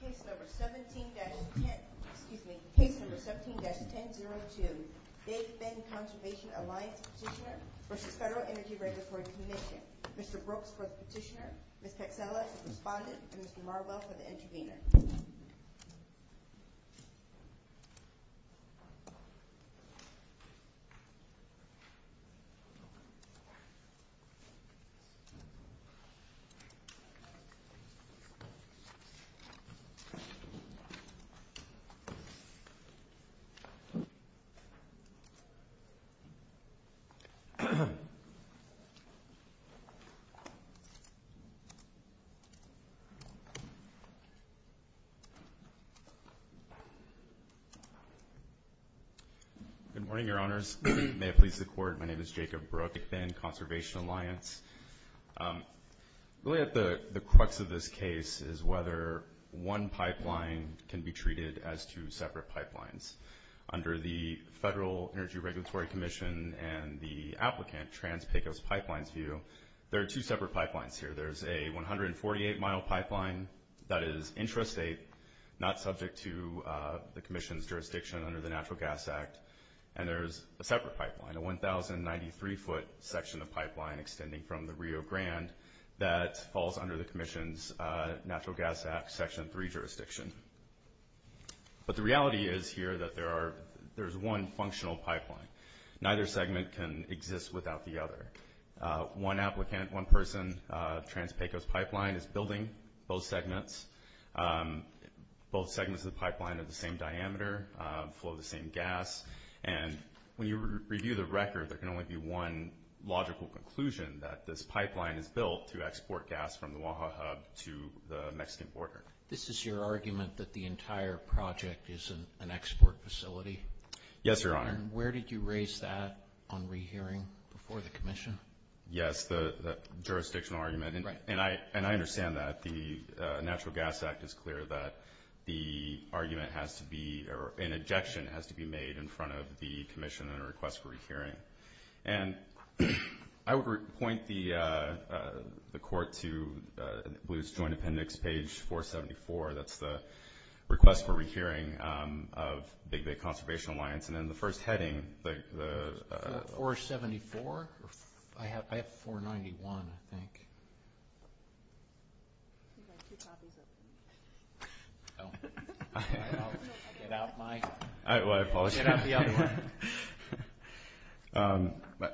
Case No. 17-1002, Dave Bend Conservation Alliance Petitioner v. Federal Energy Regulatory Commission Mr. Brooks for the petitioner, Ms. Pexellas for the respondent, and Mr. Marwell for the intervener. Good morning, Your Honors. May it please the Court, my name is Jacob Brooks with the Bend One pipeline can be treated as two separate pipelines. Under the Federal Energy Regulatory Commission and the applicant, Trans-Pecos Pipelines view, there are two separate pipelines here. There's a 148-mile pipeline that is intrastate, not subject to the Commission's jurisdiction under the Natural Gas Act, and there's a separate pipeline, a 1,093-foot section of pipeline extending from the Rio Grande that falls under the Commission's Natural Gas Act Section 3 jurisdiction. But the reality is here that there's one functional pipeline. Neither segment can exist without the other. One applicant, one person, Trans-Pecos Pipeline is building both segments. Both segments of the pipeline are the same diameter, flow the same gas, and when you review the record, there can only be one logical conclusion that this pipeline is built to export gas from the Oaxaca to the Mexican border. This is your argument that the entire project is an export facility? Yes, Your Honor. And where did you raise that on rehearing before the Commission? Yes, the jurisdictional argument, and I understand that. The Natural Gas Act is clear that the argument has to be, or an objection has to be made in front of the Commission in a request for rehearing. And I would point the Court to Blue's Joint Appendix, page 474. That's the request for rehearing of the Conservation Alliance. 474? I have 491, I think.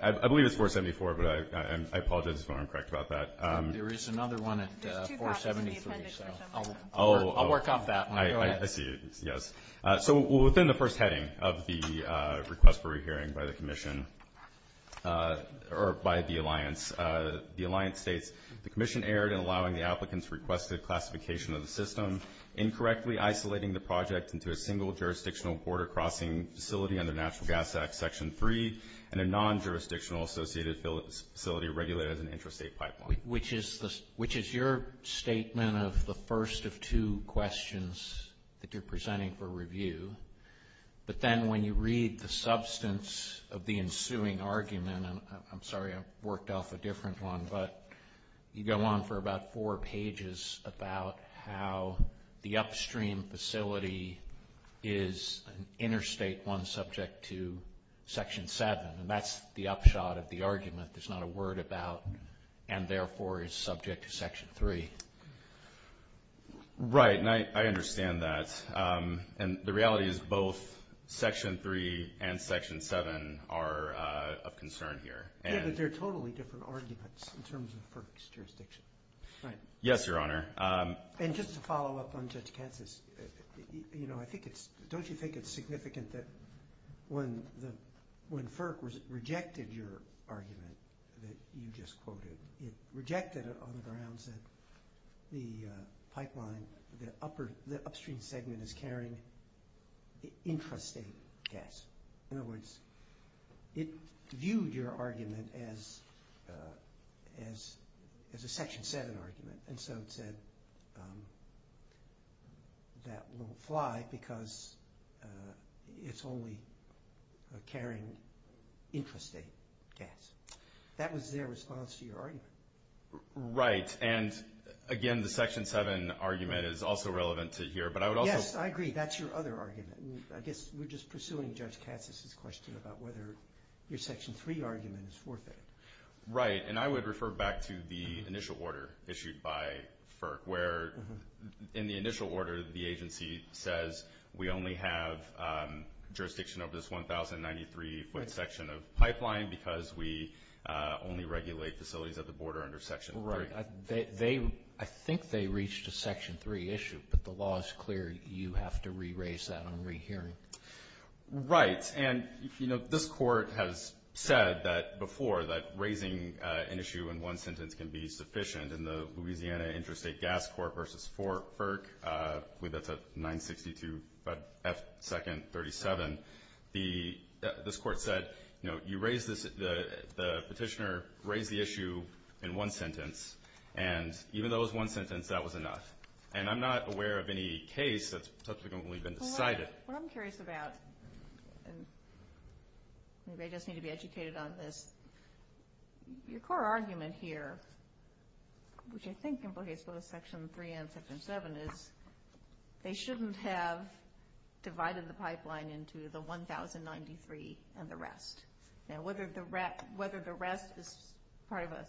I believe it's 474, but I apologize if I'm incorrect about that. There is another one at 473, so I'll work off that one. I see, yes. So within the first heading of the request for rehearing by the Alliance, the Alliance states, the Commission erred in allowing the applicants requested classification of the system, incorrectly isolating the project into a single jurisdictional border crossing facility under Natural Gas Act Section 3 and a non-jurisdictional associated facility regulated as an intrastate pipeline. Which is your statement of the first of two questions that you're presenting for review. But then when you read the substance of the ensuing argument, and I'm sorry, I worked off a different one, but you go on for about four pages about how the upstream facility is an interstate one subject to Section 7, and that's the upshot of the argument. There's not a word about, and therefore is subject to Section 3. Right, and I understand that. And the reality is both Section 3 and Section 7 are of concern here. Yeah, but they're totally different arguments in terms of FERC's jurisdiction. Right. Yes, Your Honor. And just to follow up on Judge Kansas, don't you think it's significant that when FERC rejected your argument that you just quoted, it rejected it on the grounds that the pipeline, the upstream segment is carrying intrastate gas. In other words, it viewed your argument as a Section 7 argument. And so it said that won't fly because it's only carrying intrastate gas. That was their response to your argument. Right. And, again, the Section 7 argument is also relevant to here, but I would also— Yes, I agree. That's your other argument. I guess we're just pursuing Judge Kansas's question about whether your Section 3 argument is forfeited. Right, and I would refer back to the initial order issued by FERC, where in the initial order the agency says we only have jurisdiction over this 1,093-foot section of pipeline because we only regulate facilities at the border under Section 3. Right. I think they reached a Section 3 issue, but the law is clear. You have to re-raise that on rehearing. Right. Yes, and, you know, this Court has said before that raising an issue in one sentence can be sufficient. In the Louisiana Intrastate Gas Court v. FERC, I believe that's at 962 F. 2nd 37, this Court said, you know, the petitioner raised the issue in one sentence, and even though it was one sentence, that was enough. And I'm not aware of any case that's subsequently been decided. What I'm curious about, and maybe I just need to be educated on this, your core argument here, which I think implicates both Section 3 and Section 7, is they shouldn't have divided the pipeline into the 1,093 and the rest. Now, whether the rest is part of an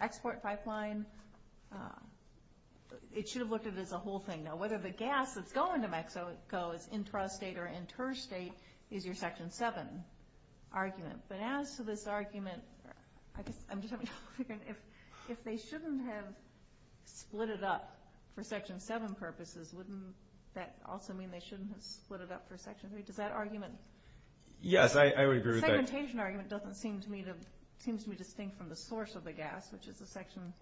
export pipeline, it should have looked at it as a whole thing. You know, whether the gas that's going to Mexico is intrastate or interstate is your Section 7 argument. But as to this argument, I'm just wondering if they shouldn't have split it up for Section 7 purposes, wouldn't that also mean they shouldn't have split it up for Section 3? Does that argument? Yes, I would agree with that. The segmentation argument doesn't seem to me to be distinct from the source of the gas, which is the Section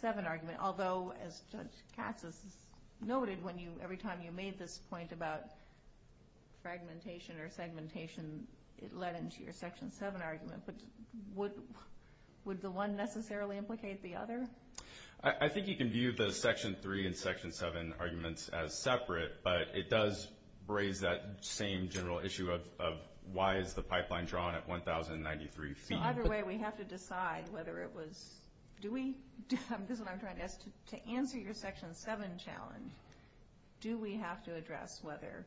7 argument, although, as Judge Katz has noted, every time you made this point about fragmentation or segmentation, it led into your Section 7 argument. But would the one necessarily implicate the other? I think you can view the Section 3 and Section 7 arguments as separate, but it does raise that same general issue of why is the pipeline drawn at 1,093 feet. Either way, we have to decide whether it was do we, this is what I'm trying to ask, to answer your Section 7 challenge, do we have to address whether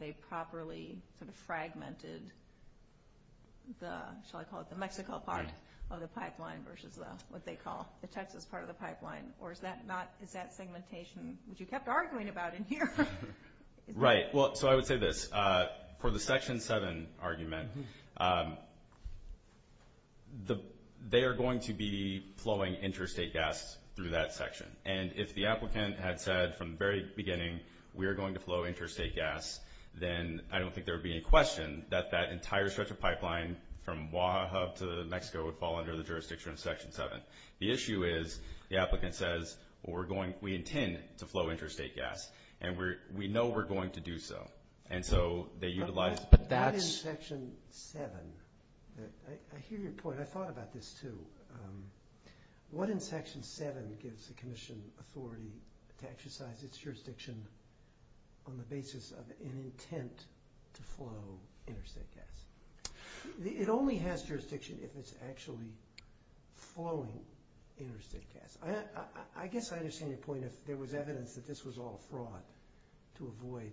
they properly fragmented the, shall I call it the Mexico part of the pipeline versus what they call the Texas part of the pipeline, or is that segmentation that you kept arguing about in here? Right. Well, so I would say this. For the Section 7 argument, they are going to be flowing interstate gas through that section, and if the applicant had said from the very beginning we are going to flow interstate gas, then I don't think there would be any question that that entire stretch of pipeline from Oaxaca to Mexico would fall under the jurisdiction of Section 7. The issue is the applicant says we intend to flow interstate gas, and we know we're going to do so, and so they utilize that. But that is Section 7. I hear your point. I thought about this, too. What in Section 7 gives the commission authority to exercise its jurisdiction on the basis of an intent to flow interstate gas? It only has jurisdiction if it's actually flowing interstate gas. I guess I understand your point if there was evidence that this was all fraud to avoid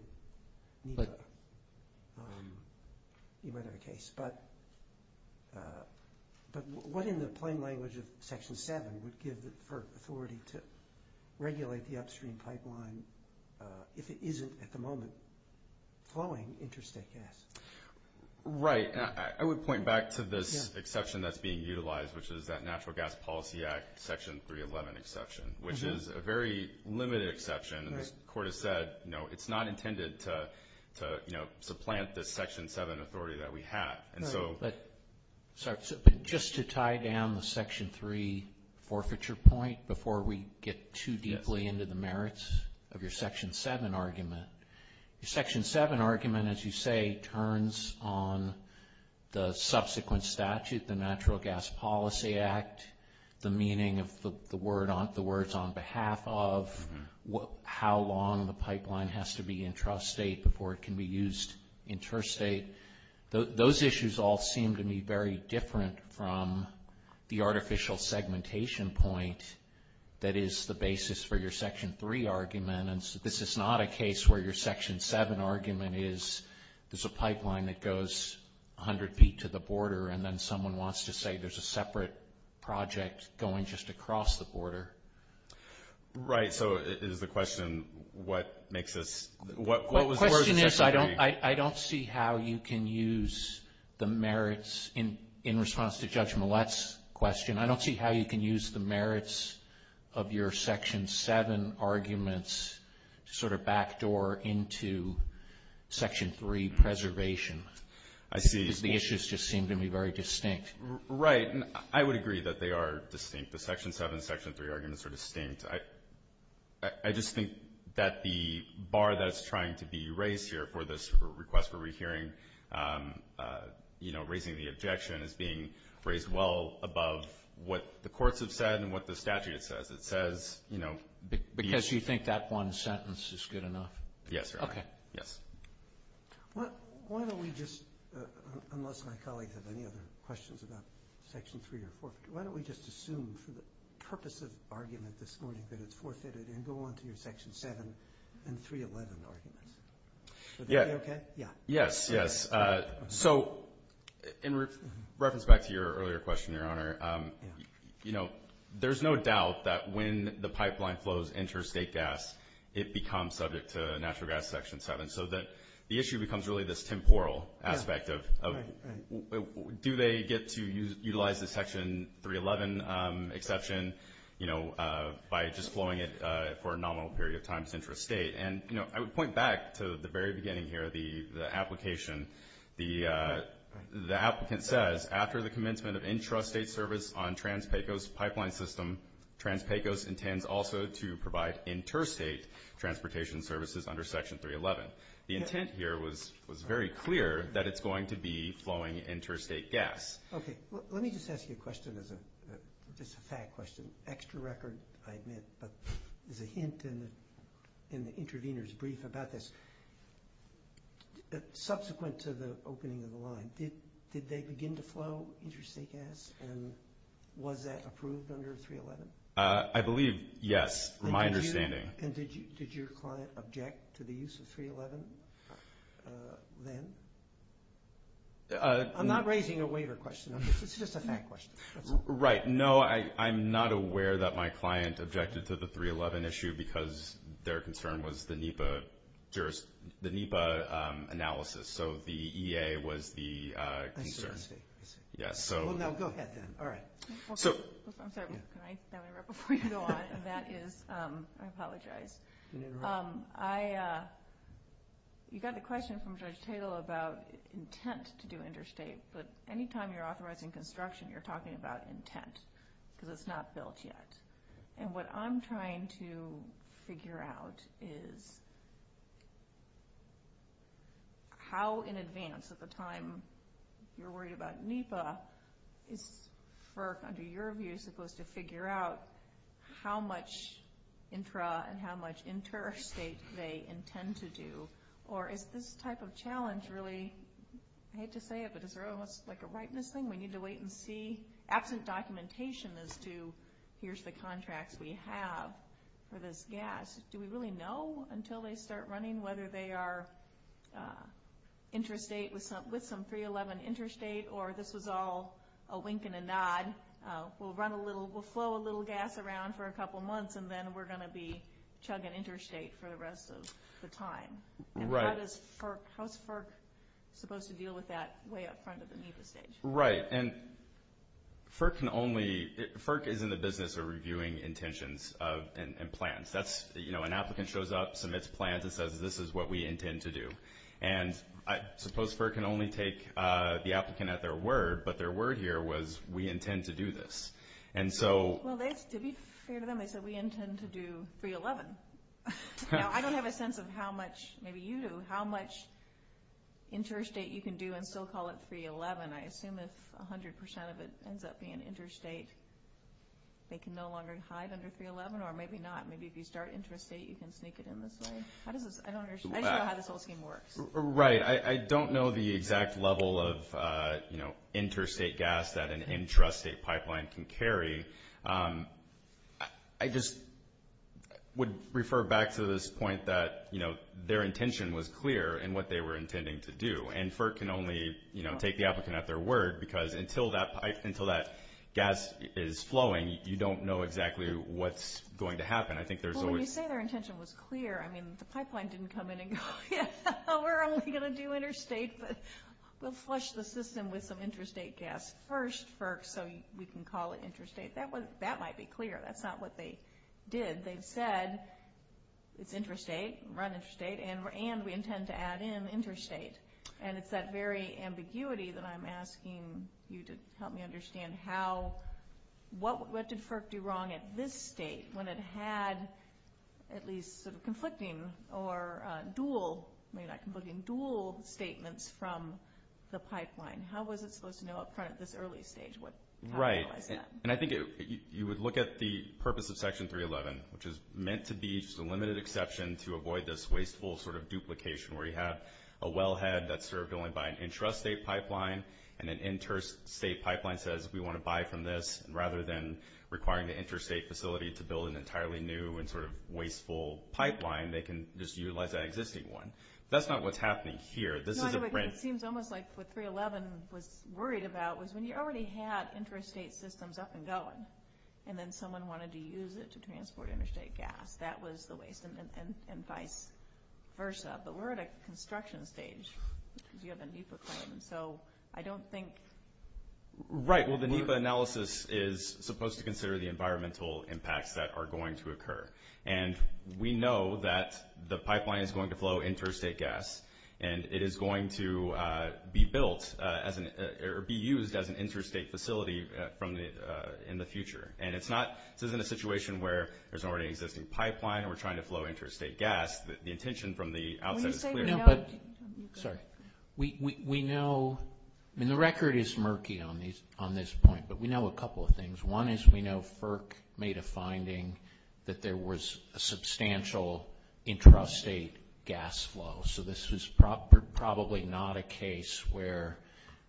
NEPA. You might have a case. But what in the plain language of Section 7 would give the authority to regulate the upstream pipeline if it isn't at the moment flowing interstate gas? Right. I would point back to this exception that's being utilized, which is that Natural Gas Policy Act Section 311 exception, which is a very limited exception. The court has said, no, it's not intended to supplant the Section 7 authority that we have. Just to tie down the Section 3 forfeiture point before we get too deeply into the merits of your Section 7 argument, your Section 7 argument, as you say, turns on the subsequent statute, the Natural Gas Policy Act, the meaning of the words on behalf of how long the pipeline has to be intrastate before it can be used interstate. Those issues all seem to me very different from the artificial segmentation point that is the basis for your Section 3 argument. And this is not a case where your Section 7 argument is there's a pipeline that goes 100 feet to the border and then someone wants to say there's a separate project going just across the border. Right. So is the question, what makes this? The question is I don't see how you can use the merits in response to Judge Millett's question. I don't see how you can use the merits of your Section 7 arguments to sort of backdoor into Section 3 preservation. I see. Because the issues just seem to me very distinct. Right. And I would agree that they are distinct. The Section 7 and Section 3 arguments are distinct. I just think that the bar that's trying to be raised here for this request where we're hearing, you know, raising the objection is being raised well above what the courts have said and what the statute says. It says, you know, Because you think that one sentence is good enough? Yes, Your Honor. Okay. Yes. Why don't we just, unless my colleagues have any other questions about Section 3 or 4, why don't we just assume for the purpose of argument this morning that it's forfeited and go on to your Section 7 and 311 arguments? Yeah. Would that be okay? Yeah. Yes. Yes. So in reference back to your earlier question, Your Honor, you know, there's no doubt that when the pipeline flows interstate gas, it becomes subject to natural gas Section 7. So the issue becomes really this temporal aspect of do they get to utilize the Section 311 exception, you know, by just flowing it for a nominal period of time centrist state? And, you know, I would point back to the very beginning here, the application. The applicant says, after the commencement of intrastate service on Trans-Pecos Pipeline System, Trans-Pecos intends also to provide interstate transportation services under Section 311. The intent here was very clear that it's going to be flowing interstate gas. Okay. Let me just ask you a question as a fact question. I admit, but there's a hint in the intervener's brief about this. Subsequent to the opening of the line, did they begin to flow interstate gas? And was that approved under 311? I believe, yes, from my understanding. And did your client object to the use of 311 then? I'm not raising a waiver question. It's just a fact question. Right. No, I'm not aware that my client objected to the 311 issue because their concern was the NEPA analysis. So the EA was the concern. I see. Well, now go ahead then. All right. I'm sorry. Can I wrap up before you go on? And that is, I apologize. You got the question from Judge Tatel about intent to do interstate. But any time you're authorizing construction, you're talking about intent because it's not built yet. And what I'm trying to figure out is how in advance, at the time you're worried about NEPA, is FERC under your view supposed to figure out how much intra and how much interstate they intend to do? Or is this type of challenge really, I hate to say it, but is there almost like a rightness thing? We need to wait and see? Absent documentation as to here's the contracts we have for this gas, do we really know until they start running whether they are interstate with some 311 interstate or this was all a wink and a nod? We'll flow a little gas around for a couple months and then we're going to be chugging interstate for the rest of the time. And how's FERC supposed to deal with that way up front at the NEPA stage? Right. And FERC is in the business of reviewing intentions and plans. An applicant shows up, submits plans, and says this is what we intend to do. And I suppose FERC can only take the applicant at their word, but their word here was we intend to do this. Well, to be fair to them, they said we intend to do 311. Now, I don't have a sense of how much, maybe you do, how much interstate you can do and still call it 311. I assume if 100% of it ends up being interstate, they can no longer hide under 311 or maybe not. Maybe if you start interstate, you can sneak it in this way. I just don't know how this whole scheme works. Right. I don't know the exact level of interstate gas that an intrastate pipeline can carry. I just would refer back to this point that their intention was clear in what they were intending to do. And FERC can only take the applicant at their word because until that gas is flowing, you don't know exactly what's going to happen. Well, when you say their intention was clear, I mean the pipeline didn't come in and go, yeah, we're only going to do interstate, but we'll flush the system with some interstate gas first, so we can call it interstate. That might be clear. That's not what they did. They said it's interstate, run interstate, and we intend to add in interstate. And it's that very ambiguity that I'm asking you to help me understand what did FERC do wrong at this state when it had at least conflicting or dual statements from the pipeline? How was it supposed to know up front at this early stage? Right. And I think you would look at the purpose of Section 311, which is meant to be just a limited exception to avoid this wasteful sort of duplication where you have a wellhead that's served only by an intrastate pipeline, and an interstate pipeline says we want to buy from this. Rather than requiring the interstate facility to build an entirely new and sort of wasteful pipeline, they can just utilize that existing one. That's not what's happening here. It seems almost like what 311 was worried about was when you already had interstate systems up and going, and then someone wanted to use it to transport interstate gas. That was the waste, and vice versa. But we're at a construction stage because you have a NEPA claim, so I don't think we're going to do that. Right. Well, the NEPA analysis is supposed to consider the environmental impacts that are going to occur. And we know that the pipeline is going to flow interstate gas, and it is going to be built or be used as an interstate facility in the future. And this isn't a situation where there's already an existing pipeline and we're trying to flow interstate gas. The intention from the outset is clear. Sorry. We know, and the record is murky on this point, but we know a couple of things. One is we know FERC made a finding that there was a substantial intrastate gas flow. So this was probably not a case where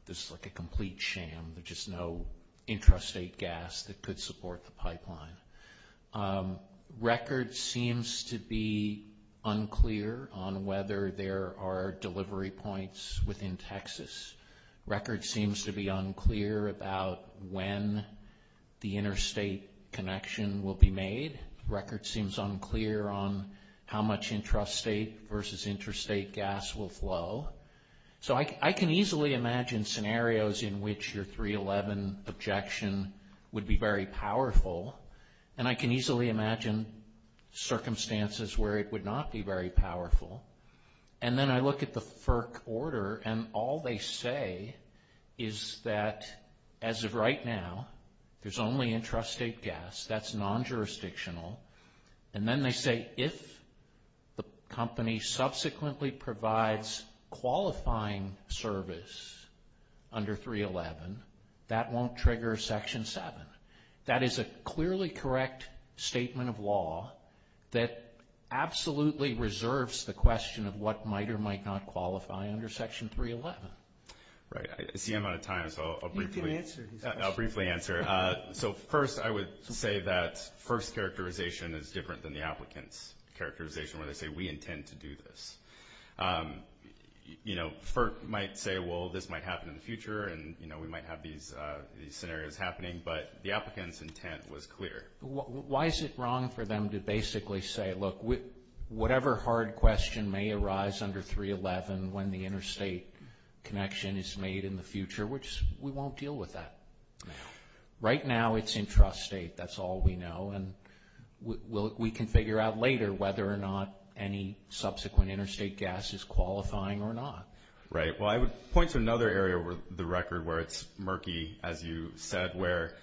this is like a complete sham. There's just no intrastate gas that could support the pipeline. Record seems to be unclear on whether there are delivery points within Texas. Record seems to be unclear about when the interstate connection will be made. Record seems unclear on how much intrastate versus interstate gas will flow. So I can easily imagine scenarios in which your 311 objection would be very powerful, and I can easily imagine circumstances where it would not be very powerful. And then I look at the FERC order, and all they say is that as of right now, there's only intrastate gas. That's non-jurisdictional. And then they say if the company subsequently provides qualifying service under 311, that won't trigger Section 7. That is a clearly correct statement of law that absolutely reserves the question of what might or might not qualify under Section 311. Right. I see I'm out of time, so I'll briefly answer. So first, I would say that FERC's characterization is different than the applicant's characterization, where they say we intend to do this. FERC might say, well, this might happen in the future, and we might have these scenarios happening, but the applicant's intent was clear. Why is it wrong for them to basically say, look, whatever hard question may arise under 311 when the interstate connection is made in the future, we won't deal with that. Right now, it's intrastate. That's all we know, and we can figure out later whether or not any subsequent interstate gas is qualifying or not. Right. Well, I would point to another area of the record where it's murky, as you said, where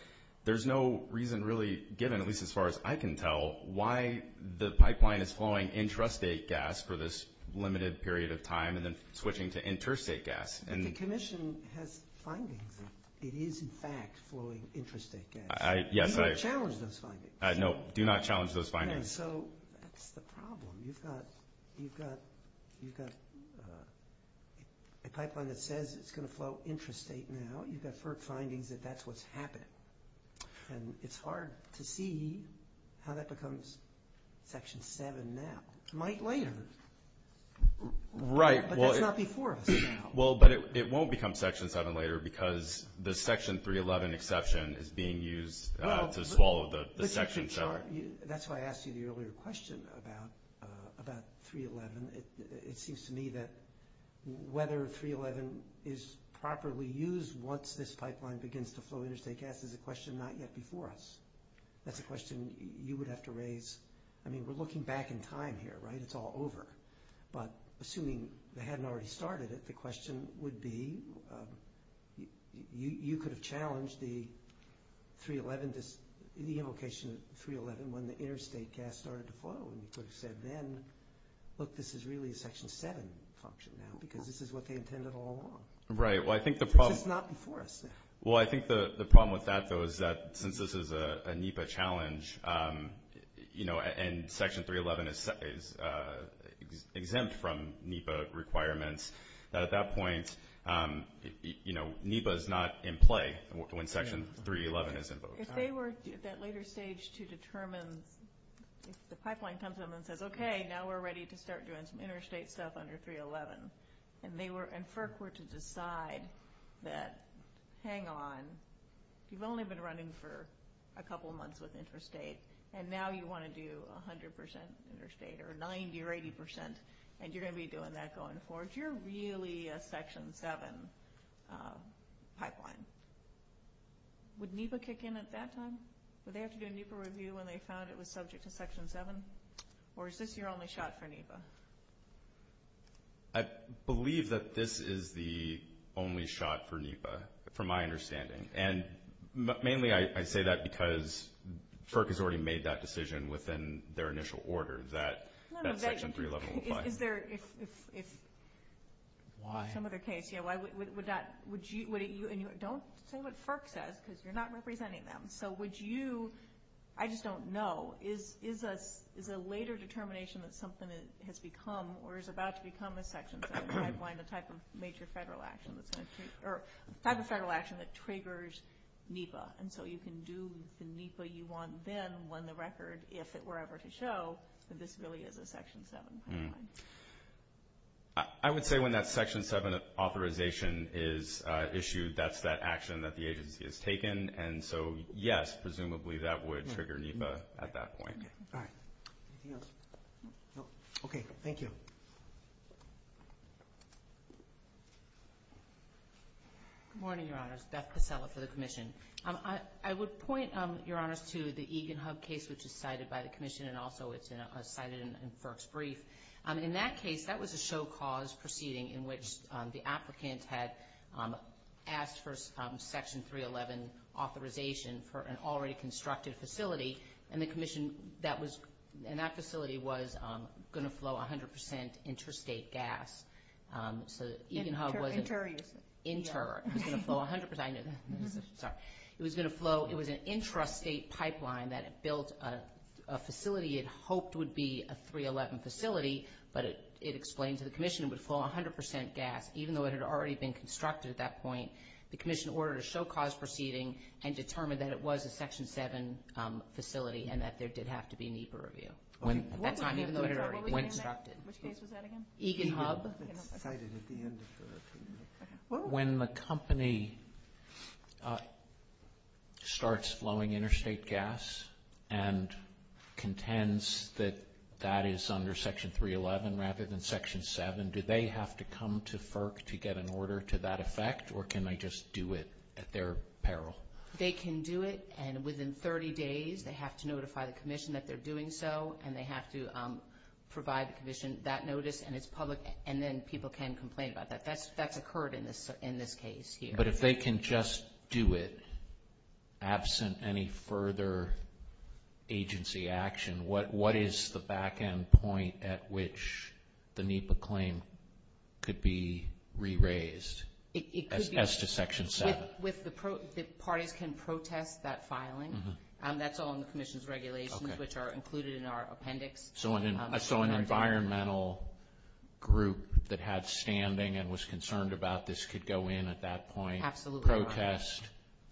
there's no reason really given, at least as far as I can tell, why the pipeline is flowing intrastate gas for this limited period of time and then switching to interstate gas. The Commission has findings that it is, in fact, flowing intrastate gas. Yes, I have. Do not challenge those findings. No, do not challenge those findings. So that's the problem. You've got a pipeline that says it's going to flow intrastate now. You've got FERC findings that that's what's happening. And it's hard to see how that becomes Section 7 now. It might later. Right. But that's not before us now. Well, but it won't become Section 7 later because the Section 311 exception is being used to swallow the section. That's why I asked you the earlier question about 311. It seems to me that whether 311 is properly used once this pipeline begins to flow interstate gas is a question not yet before us. That's a question you would have to raise. I mean, we're looking back in time here, right? It's all over. But assuming they hadn't already started it, the question would be you could have challenged the 311, the invocation of 311 when the interstate gas started to flow. And you could have said then, look, this is really a Section 7 function now because this is what they intended all along. Right. Which is not before us now. Well, I think the problem with that, though, is that since this is a NEPA challenge, you know, and Section 311 is exempt from NEPA requirements, at that point, you know, NEPA is not in play when Section 311 is invoked. If they were at that later stage to determine, if the pipeline comes up and says, okay, now we're ready to start doing some interstate stuff under 311, and FERC were to decide that, hang on, you've only been running for a couple months with interstate, and now you want to do 100% interstate or 90% or 80%, and you're going to be doing that going forward, you're really a Section 7 pipeline. Would NEPA kick in at that time? Would they have to do a NEPA review when they found it was subject to Section 7? Or is this your only shot for NEPA? I believe that this is the only shot for NEPA, from my understanding. And mainly I say that because FERC has already made that decision within their initial order that Section 311 would apply. Is there, if some other case, you know, would that, would you, and don't say what FERC says because you're not representing them. So would you, I just don't know, is a later determination that something has become or is about to become a Section 7 pipeline, a type of major federal action that's going to, or a type of federal action that triggers NEPA, and so you can do the NEPA you want then when the record, if it were ever to show, that this really is a Section 7 pipeline. I would say when that Section 7 authorization is issued, that's that action that the agency has taken. And so, yes, presumably that would trigger NEPA at that point. All right. Anything else? No. Okay. Good morning, Your Honors. Beth Casella for the Commission. I would point, Your Honors, to the Egan Hub case, which is cited by the Commission, and also it's cited in FERC's brief. In that case, that was a show cause proceeding in which the applicant had asked for Section 311 authorization for an already constructed facility, and the Commission, that was, and that facility was going to flow 100 percent interstate gas. So Egan Hub was an inter. It was going to flow 100 percent. I know that. Sorry. It was going to flow. It was an intrastate pipeline that built a facility it hoped would be a 311 facility, but it explained to the Commission it would flow 100 percent gas, even though it had already been constructed at that point. The Commission ordered a show cause proceeding and determined that it was a Section 7 facility and that there did have to be a NEPA review at that time, even though it had already been constructed. Which case was that again? Egan Hub. It's cited at the end of the brief. When the company starts flowing interstate gas and contends that that is under Section 311 rather than Section 7, do they have to come to FERC to get an order to that effect, or can they just do it at their peril? They can do it, and within 30 days they have to notify the Commission that they're doing so, and they have to provide the Commission that notice, and it's public, and then people can complain about that. That's occurred in this case here. But if they can just do it absent any further agency action, what is the back-end point at which the NEPA claim could be re-raised as to Section 7? The parties can protest that filing. That's all in the Commission's regulations, which are included in our appendix. So an environmental group that had standing and was concerned about this could go in at that point, protest,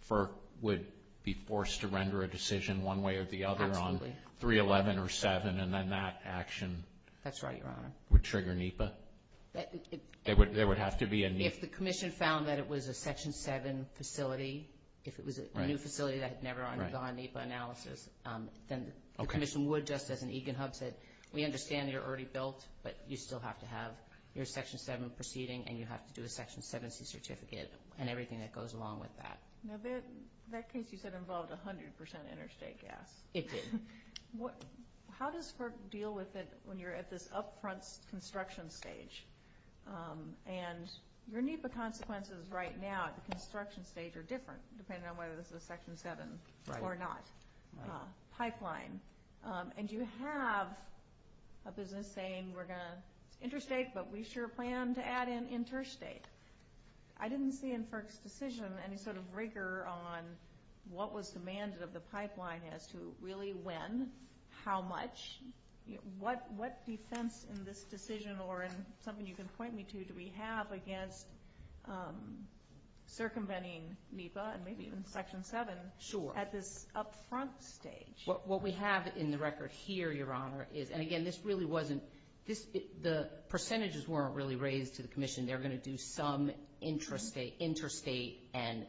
FERC would be forced to render a decision one way or the other on 311 or 7, and then that action would trigger NEPA? There would have to be a NEPA. If the Commission found that it was a Section 7 facility, if it was a new facility that had never undergone NEPA analysis, then the Commission would, just as an EGAN hub said, we understand you're already built, but you still have to have your Section 7 proceeding, and you have to do a Section 7C certificate and everything that goes along with that. Now, that case you said involved 100 percent interstate gas. It did. How does FERC deal with it when you're at this upfront construction stage? And your NEPA consequences right now at the construction stage are different, depending on whether this is a Section 7 or not pipeline. And you have a business saying we're going to interstate, but we sure plan to add in interstate. I didn't see in FERC's decision any sort of rigor on what was demanded of the pipeline as to really when, how much, what defense in this decision or in something you can point me to do we have against circumventing NEPA and maybe even Section 7 at this upfront stage? What we have in the record here, Your Honor, is, and again, this really wasn't, the percentages weren't really raised to the Commission. They're going to do some interstate and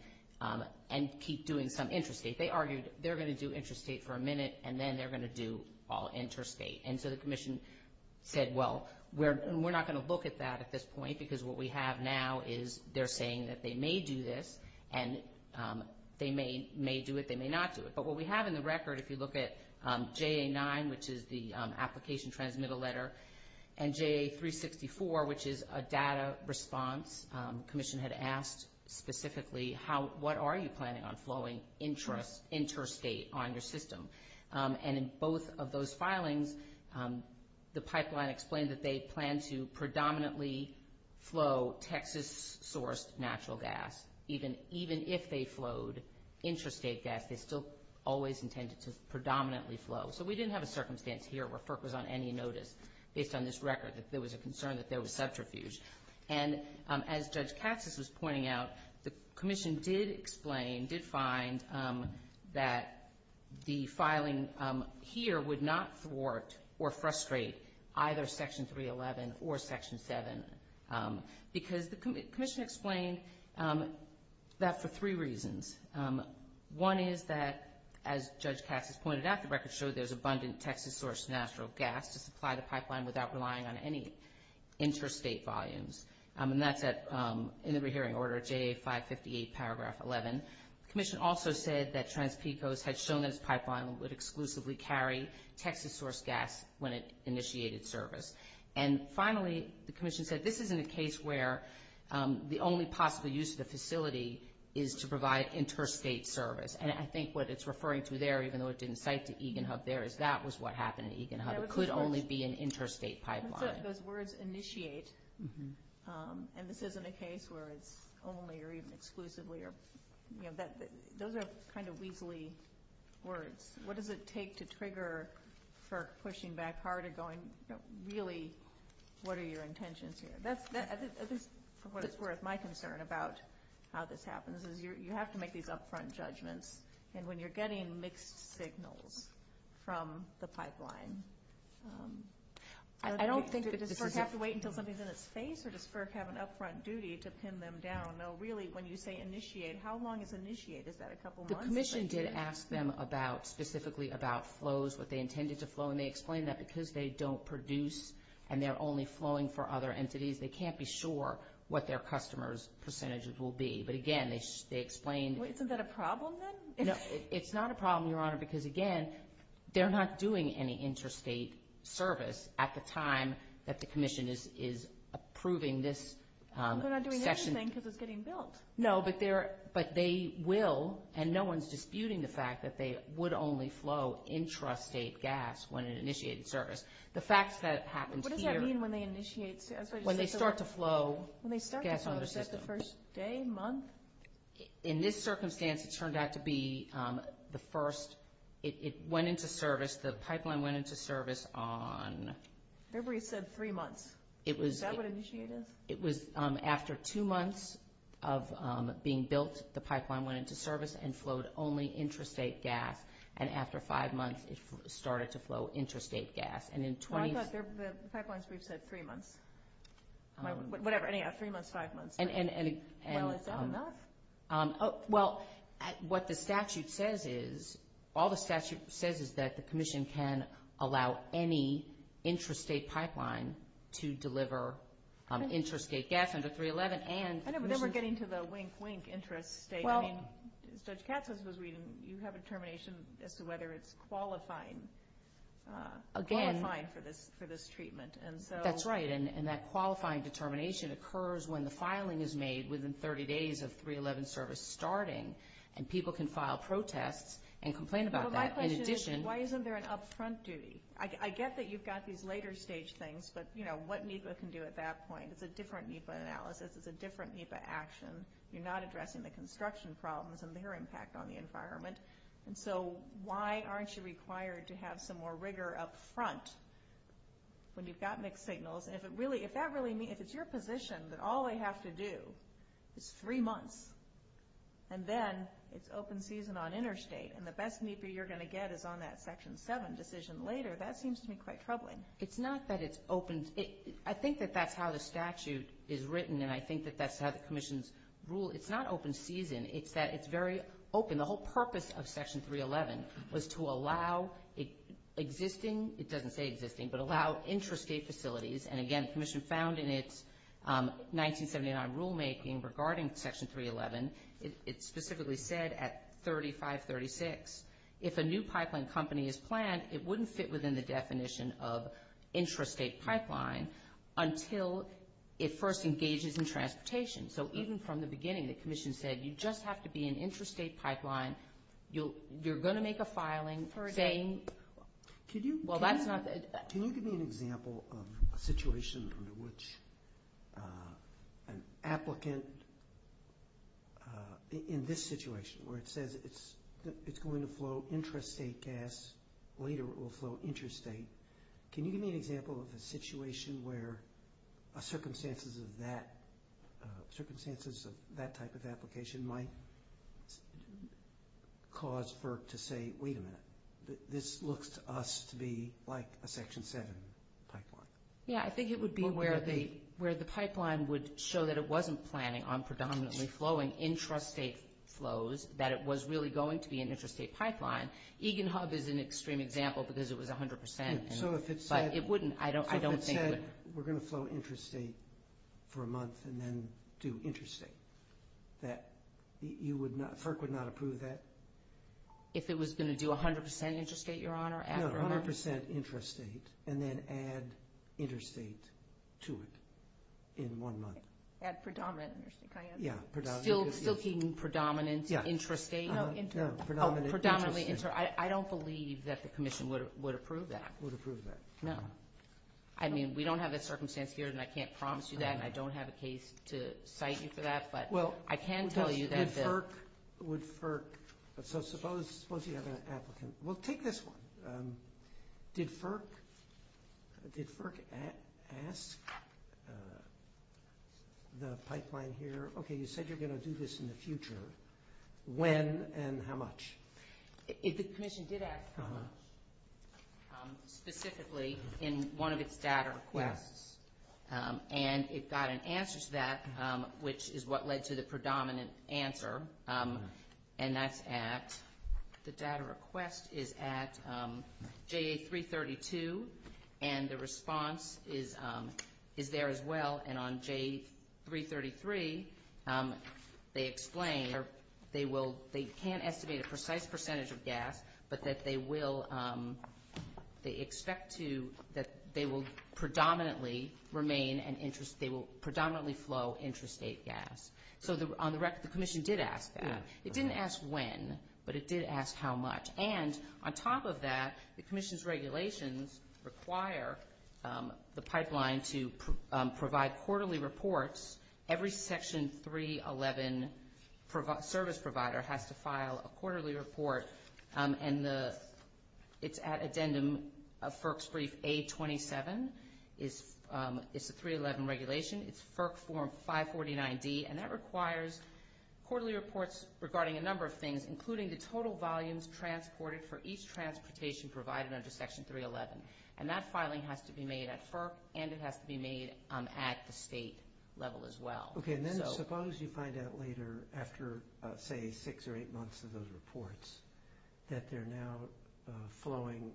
keep doing some interstate. They argued they're going to do interstate for a minute, and then they're going to do all interstate. And so the Commission said, well, we're not going to look at that at this point, because what we have now is they're saying that they may do this, and they may do it, they may not do it. But what we have in the record, if you look at JA-9, which is the application transmittal letter, and JA-364, which is a data response, the Commission had asked specifically, what are you planning on flowing interstate on your system? And in both of those filings, the pipeline explained that they planned to predominantly flow Texas-sourced natural gas. Even if they flowed interstate gas, they still always intended to predominantly flow. So we didn't have a circumstance here where FERC was on any notice, based on this record, that there was a concern that there was subterfuge. And as Judge Katsas was pointing out, the Commission did explain, did find, that the filing here would not thwart or frustrate either Section 311 or Section 7, because the Commission explained that for three reasons. One is that, as Judge Katsas pointed out, the record showed there's abundant Texas-sourced natural gas to supply the pipeline without relying on any interstate volumes. And that's in the rehearing order, JA-558, paragraph 11. The Commission also said that Trans-Picos had shown that its pipeline would exclusively carry Texas-sourced gas when it initiated service. And finally, the Commission said this isn't a case where the only possible use of the facility is to provide interstate service. And I think what it's referring to there, even though it didn't cite to Eagan Hub there, is that was what happened at Eagan Hub. It could only be an interstate pipeline. Those words, initiate, and this isn't a case where it's only or even exclusively. Those are kind of weaselly words. What does it take to trigger FERC pushing back harder, going, really, what are your intentions here? That's, for what it's worth, my concern about how this happens is you have to make these upfront judgments. And when you're getting mixed signals from the pipeline. Does FERC have to wait until something's in its face, or does FERC have an upfront duty to pin them down? No, really, when you say initiate, how long is initiate? Is that a couple months? The Commission did ask them specifically about flows, what they intended to flow, and they explained that because they don't produce and they're only flowing for other entities, they can't be sure what their customers' percentages will be. Isn't that a problem then? No, it's not a problem, Your Honor, because, again, they're not doing any interstate service at the time that the Commission is approving this session. They're not doing anything because it's getting built. No, but they will, and no one's disputing the fact that they would only flow intrastate gas when it initiated service. What does that mean when they initiate service? When they start to flow gas on their system. When they start to flow, is that the first day, month? In this circumstance, it turned out to be the first. It went into service, the pipeline went into service on... I remember you said three months. Is that what initiate is? It was after two months of being built, the pipeline went into service and flowed only intrastate gas, and after five months, it started to flow intrastate gas. Well, I thought the pipelines brief said three months. Whatever, anyhow, three months, five months. Well, is that enough? Well, what the statute says is, all the statute says is that the Commission can allow any intrastate pipeline to deliver intrastate gas under 311 and... I know, but then we're getting to the wink, wink, intrastate. As Judge Katz was reading, you have a determination as to whether it's qualifying for this treatment. That's right, and that qualifying determination occurs when the filing is made within 30 days of 311 service starting, and people can file protests and complain about that. My question is, why isn't there an upfront duty? I get that you've got these later stage things, but what NEPA can do at that point? It's a different NEPA analysis. It's a different NEPA action. You're not addressing the construction problems and their impact on the environment, and so why aren't you required to have some more rigor up front when you've got mixed signals? If it's your position that all they have to do is three months, and then it's open season on interstate, and the best NEPA you're going to get is on that Section 7 decision later, that seems to me quite troubling. It's not that it's open. I think that that's how the statute is written, and I think that that's how the Commission's rule. It's not open season. It's that it's very open. The whole purpose of Section 311 was to allow existing, it doesn't say existing, but allow intrastate facilities, and again, the Commission found in its 1979 rulemaking regarding Section 311, it specifically said at 3536, if a new pipeline company is planned, it wouldn't fit within the definition of intrastate pipeline until it first engages in transportation. So even from the beginning, the Commission said you just have to be an intrastate pipeline. You're going to make a filing. Can you give me an example of a situation under which an applicant in this situation, where it says it's going to flow intrastate gas, later it will flow intrastate, can you give me an example of a situation where circumstances of that type of application might cause FERC to say, wait a minute, this looks to us to be like a Section 7 pipeline? Yeah, I think it would be where the pipeline would show that it wasn't planning on predominantly flowing intrastate flows, that it was really going to be an intrastate pipeline. Eagan Hub is an extreme example because it was 100%, but it wouldn't, I don't think it would. So if it said we're going to flow intrastate for a month and then do intrastate, that you would not, FERC would not approve that? If it was going to do 100% intrastate, Your Honor, after a month? No, 100% intrastate and then add intrastate to it in one month. Add predominant intrastate, I understand. Still keeping predominant intrastate? Predominantly intrastate. I don't believe that the Commission would approve that. Would approve that. No. I mean, we don't have that circumstance here, and I can't promise you that, and I don't have a case to cite you for that, but I can tell you that the – So suppose you have an applicant. Well, take this one. Did FERC ask the pipeline here, okay, you said you're going to do this in the future. When and how much? The Commission did ask specifically in one of its data requests, and it got an answer to that, which is what led to the predominant answer, and that's at – the data request is at JA-332, and the response is there as well, and on JA-333, they explain they can't estimate a precise percentage of gas, but that they will – they expect to – that they will predominantly remain an – they will predominantly flow intrastate gas. So on the record, the Commission did ask that. It didn't ask when, but it did ask how much. And on top of that, the Commission's regulations require the pipeline to provide quarterly reports. Every Section 311 service provider has to file a quarterly report, and the – it's at addendum of FERC's brief A-27. It's a 311 regulation. It's FERC form 549-D, and that requires quarterly reports regarding a number of things, including the total volumes transported for each transportation provided under Section 311. And that filing has to be made at FERC, and it has to be made at the state level as well. Okay, and then suppose you find out later, after, say, six or eight months of those reports, that they're now flowing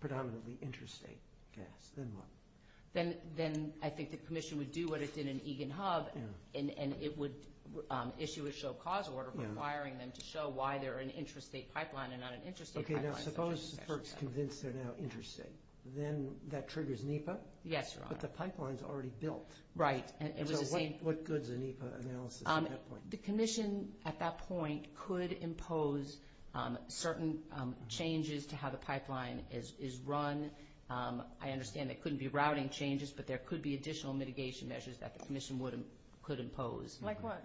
predominantly intrastate gas. Then what? Then I think the Commission would do what it did in Eagan Hub, and it would issue a show cause order requiring them to show why they're an intrastate pipeline and not an intrastate pipeline. Okay, now suppose FERC's convinced they're now intrastate. Then that triggers NEPA? Yes, Your Honor. But the pipeline's already built. Right. And so what good is a NEPA analysis at that point? The Commission, at that point, could impose certain changes to how the pipeline is run. I understand there couldn't be routing changes, but there could be additional mitigation measures that the Commission could impose. Like what?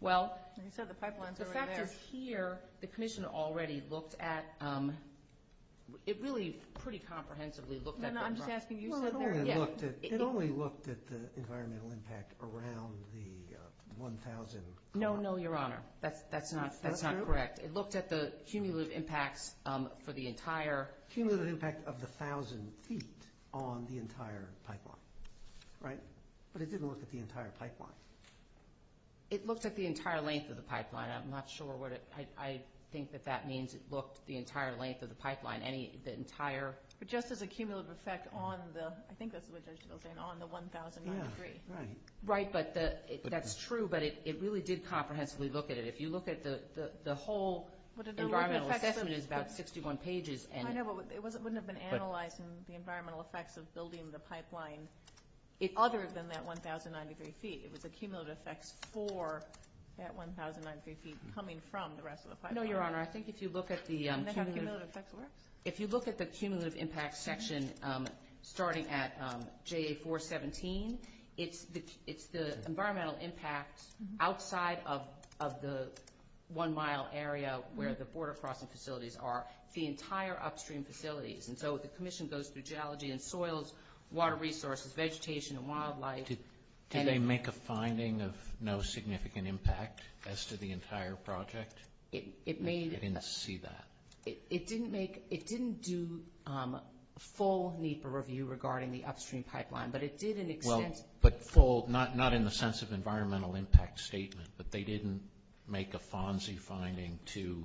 Well, the fact is here, the Commission already looked at the environmental impact around the 1,000 feet. No, no, Your Honor. That's not correct. It looked at the cumulative impacts for the entire pipeline. Cumulative impact of the 1,000 feet on the entire pipeline, right? But it didn't look at the entire pipeline. It looked at the entire length of the pipeline. I'm not sure what it – I think that that means it looked at the entire length of the pipeline, the entire – But just as a cumulative effect on the – I think that's what it was saying, on the 1,000 feet. Right, but that's true. But it really did comprehensively look at it. If you look at the whole environmental assessment, it's about 61 pages. I know, but it wouldn't have been analyzing the environmental effects of building the pipeline other than that 1,000 feet. It was the cumulative effects for that 1,003 feet coming from the rest of the pipeline. No, Your Honor. I think if you look at the – And then how the cumulative effects works? If you look at the cumulative impact section starting at JA-417, it's the environmental impact outside of the one-mile area where the border crossing facilities are, the entire upstream facilities. And so the Commission goes through geology and soils, water resources, vegetation and wildlife. Did they make a finding of no significant impact as to the entire project? It made – I didn't see that. It didn't make – it didn't do full NEPA review regarding the upstream pipeline, but it did in extent – Well, but full – not in the sense of environmental impact statement, but they didn't make a FONSI finding to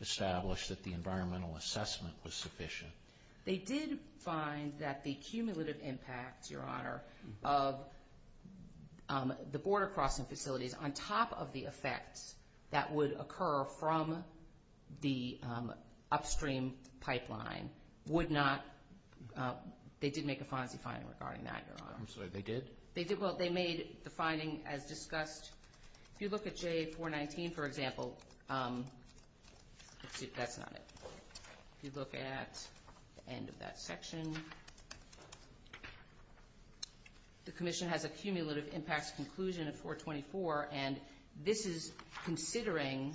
establish that the environmental assessment was sufficient. They did find that the cumulative impact, Your Honor, of the border crossing facilities on top of the effects that would occur from the upstream pipeline would not – they did make a FONSI finding regarding that, Your Honor. I'm sorry, they did? They did. Well, they made the finding as discussed. If you look at JA-419, for example – let's see if that's not it. If you look at the end of that section, the Commission has a cumulative impacts conclusion of 424, and this is considering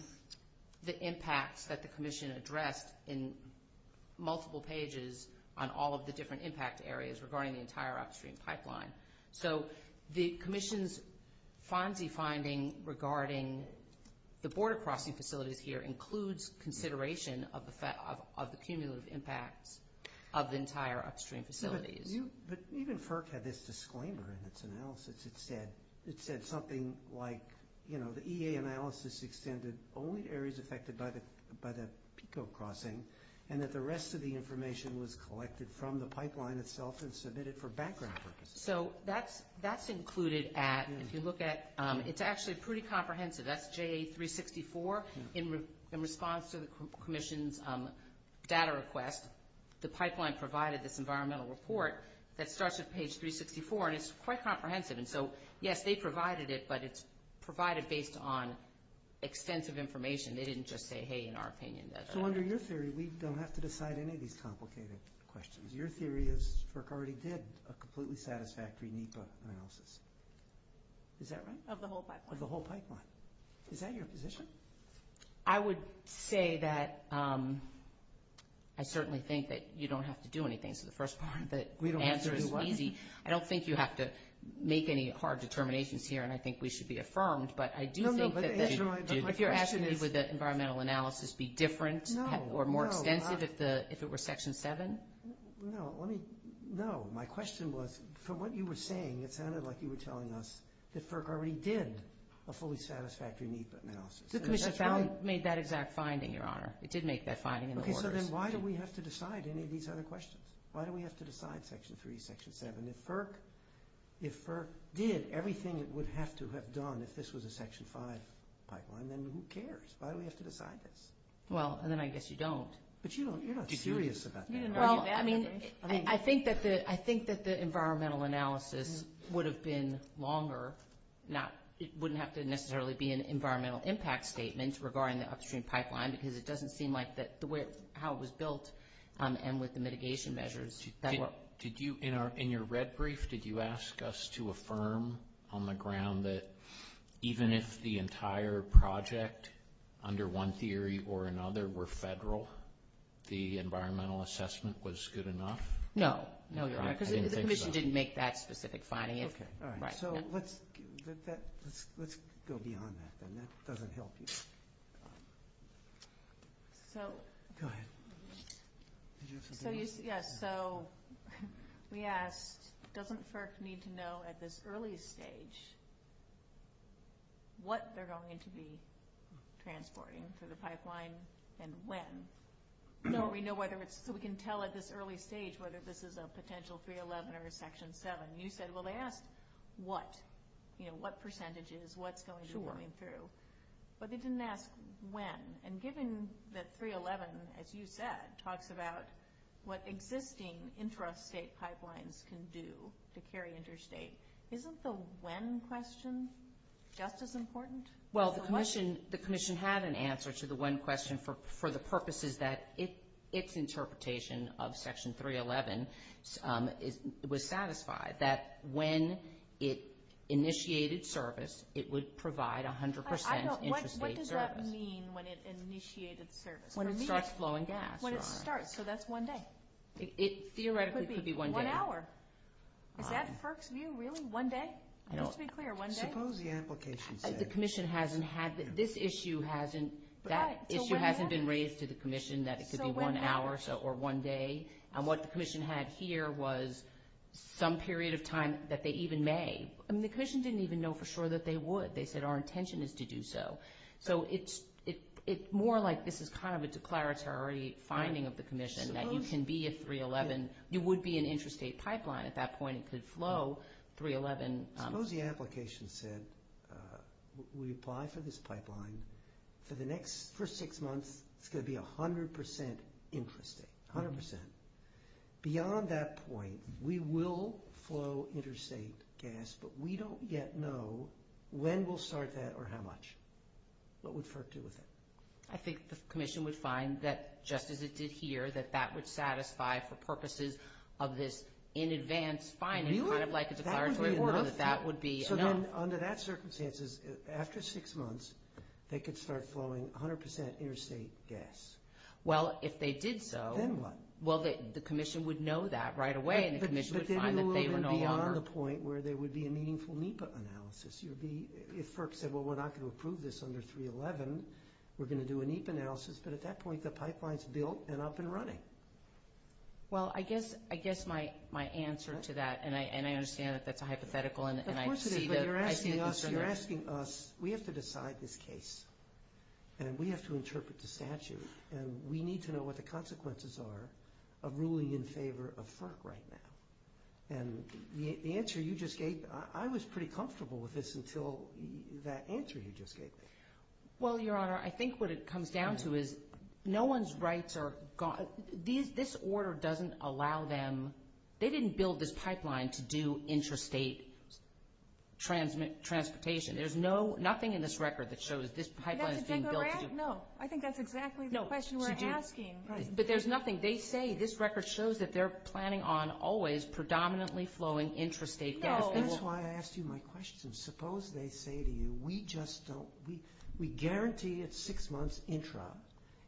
the impacts that the Commission addressed in multiple pages on all of the different impact areas regarding the entire upstream pipeline. So the Commission's FONSI finding regarding the border crossing facilities here includes consideration of the cumulative impacts of the entire upstream facilities. But even FERC had this disclaimer in its analysis. It said something like, you know, the EA analysis extended only to areas affected by the PICO crossing and that the rest of the information was collected from the pipeline itself and submitted for background purposes. So that's included at – if you look at – it's actually pretty comprehensive. That's JA-364. In response to the Commission's data request, the pipeline provided this environmental report that starts at page 364, and it's quite comprehensive. And so, yes, they provided it, but it's provided based on extensive information. They didn't just say, hey, in our opinion that – So under your theory, we don't have to decide any of these complicated questions. Your theory is FERC already did a completely satisfactory NEPA analysis. Is that right? Of the whole pipeline. Of the whole pipeline. Is that your position? I would say that I certainly think that you don't have to do anything. So the first part of the answer is easy. We don't have to do what? I don't think you have to make any hard determinations here, and I think we should be affirmed. But I do think that if you're asking me would the environmental analysis be different or more extensive if it were Section 7? No, let me – no. My question was, from what you were saying, it sounded like you were telling us that FERC already did a fully satisfactory NEPA analysis. The Commission made that exact finding, Your Honor. It did make that finding in the orders. Okay, so then why do we have to decide any of these other questions? Why do we have to decide Section 3, Section 7? If FERC did everything it would have to have done if this was a Section 5 pipeline, then who cares? Why do we have to decide this? Well, then I guess you don't. But you're not serious about that. Well, I mean, I think that the environmental analysis would have been longer. It wouldn't have to necessarily be an environmental impact statement regarding the upstream pipeline because it doesn't seem like the way how it was built and with the mitigation measures. In your red brief, did you ask us to affirm on the ground that even if the entire project, under one theory or another, were federal, the environmental assessment was good enough? No. No, Your Honor, because the Commission didn't make that specific finding. All right, so let's go beyond that then. That doesn't help you. Go ahead. Yes, so we asked, doesn't FERC need to know at this early stage what they're going to be transporting for the pipeline and when? No, we can tell at this early stage whether this is a potential 311 or a Section 7. You said, well, they asked what, you know, what percentage is, what's going to be going through. But they didn't ask when. And given that 311, as you said, talks about what existing interstate pipelines can do to carry interstate, isn't the when question just as important? Well, the Commission had an answer to the when question for the purposes that its interpretation of Section 311 was satisfied that when it initiated service, it would provide 100% interstate service. What does it mean when it initiated service? When it starts flowing gas, Your Honor. When it starts, so that's one day. It theoretically could be one day. One hour. Is that FERC's view, really? One day? Just to be clear, one day? Suppose the application said. The Commission hasn't had, this issue hasn't, that issue hasn't been raised to the Commission that it could be one hour or one day. And what the Commission had here was some period of time that they even may. I mean, the Commission didn't even know for sure that they would. They said our intention is to do so. So it's more like this is kind of a declaratory finding of the Commission that you can be a 311. You would be an interstate pipeline. At that point, it could flow 311. Suppose the application said we apply for this pipeline. For the next first six months, it's going to be 100% interstate, 100%. Beyond that point, we will flow interstate gas, but we don't yet know when we'll start that or how much. What would FERC do with it? I think the Commission would find that just as it did here, that that would satisfy for purposes of this in advance finding, kind of like a declaratory, that that would be enough. So then under that circumstances, after six months, they could start flowing 100% interstate gas. Well, if they did so. Then what? Well, the Commission would know that right away, and the Commission would find that they were no longer. But then you would be on the point where there would be a meaningful NEPA analysis. If FERC said, well, we're not going to approve this under 311, we're going to do a NEPA analysis. But at that point, the pipeline's built and up and running. Well, I guess my answer to that, and I understand that that's a hypothetical. Of course it is, but you're asking us. We have to decide this case, and we have to interpret the statute. And we need to know what the consequences are of ruling in favor of FERC right now. And the answer you just gave, I was pretty comfortable with this until that answer you just gave me. Well, Your Honor, I think what it comes down to is no one's rights are gone. This order doesn't allow them. They didn't build this pipeline to do intrastate transportation. There's nothing in this record that shows this pipeline is being built. No, I think that's exactly the question we're asking. But there's nothing. They say this record shows that they're planning on always predominantly flowing intrastate gas. That's why I asked you my question. Suppose they say to you, we just don't, we guarantee it's six months intra.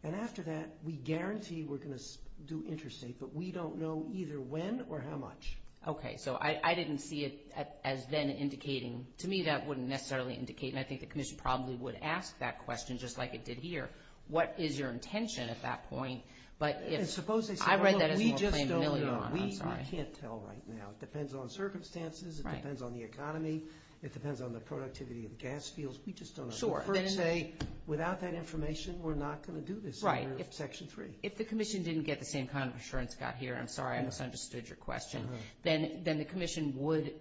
And after that, we guarantee we're going to do intrastate, but we don't know either when or how much. Okay, so I didn't see it as then indicating. To me, that wouldn't necessarily indicate. And I think the commission probably would ask that question just like it did here. What is your intention at that point? And suppose they say, look, we just don't know. We can't tell right now. It depends on circumstances. It depends on the economy. It depends on the productivity of gas fields. We just don't know. The FERC say, without that information, we're not going to do this under Section 3. If the commission didn't get the same kind of assurance Scott here, and I'm sorry I misunderstood your question, then the commission would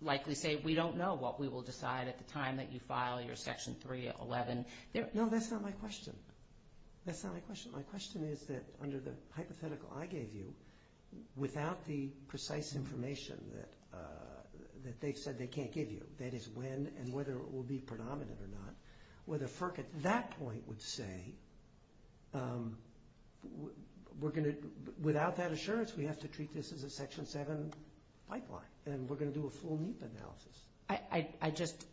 likely say, we don't know what we will decide at the time that you file your Section 311. No, that's not my question. That's not my question. My question is that under the hypothetical I gave you, without the precise information that they said they can't give you, that is when and whether it will be predominant or not, whether FERC at that point would say, we're going to, without that assurance, we have to treat this as a Section 7 pipeline, and we're going to do a full NEPA analysis. I just,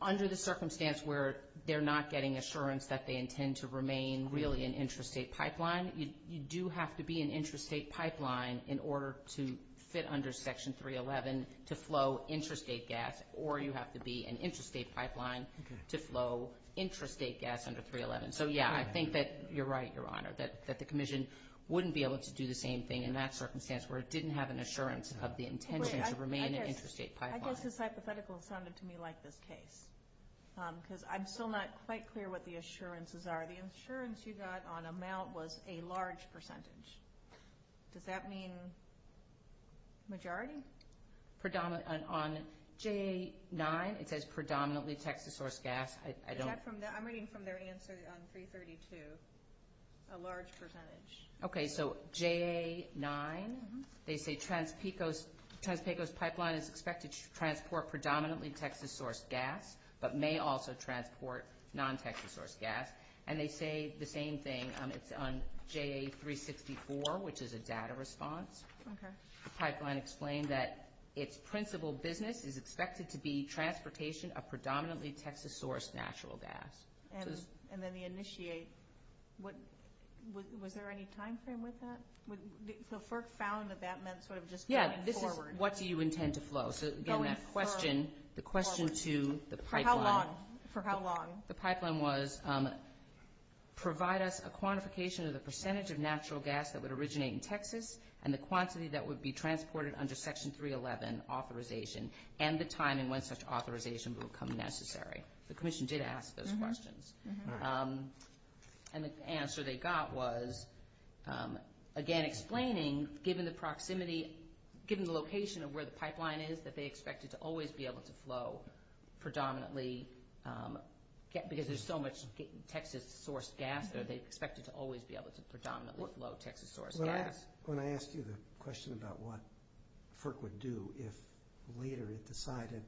under the circumstance where they're not getting assurance that they intend to remain really an intrastate pipeline, you do have to be an intrastate pipeline in order to fit under Section 311 to flow intrastate gas, or you have to be an intrastate pipeline to flow intrastate gas under 311. So, yeah, I think that you're right, Your Honor, that the commission wouldn't be able to do the same thing in that circumstance where it didn't have an assurance of the intention to remain an intrastate pipeline. I guess this hypothetical sounded to me like this case, because I'm still not quite clear what the assurances are. The assurance you got on amount was a large percentage. Does that mean majority? On JA-9, it says predominantly Texas source gas. I'm reading from their answer on 332, a large percentage. Okay, so JA-9, they say Trans-Pecos Pipeline is expected to transport predominantly Texas source gas, but may also transport non-Texas source gas. And they say the same thing on JA-364, which is a data response. Okay. The pipeline explained that its principal business is expected to be transportation of predominantly Texas source natural gas. And then the initiate, was there any timeframe with that? So FERC found that that meant sort of just going forward. Yeah, this is what do you intend to flow. So, again, that question, the question to the pipeline. For how long? The pipeline was provide us a quantification of the percentage of natural gas that would originate in Texas and the quantity that would be transported under Section 311 authorization and the timing when such authorization would become necessary. The commission did ask those questions. And the answer they got was, again, explaining, given the proximity, given the location of where the pipeline is, that they expect it to always be able to flow predominantly, because there's so much Texas source gas there, they expect it to always be able to predominantly flow Texas source gas. When I asked you the question about what FERC would do if later it decided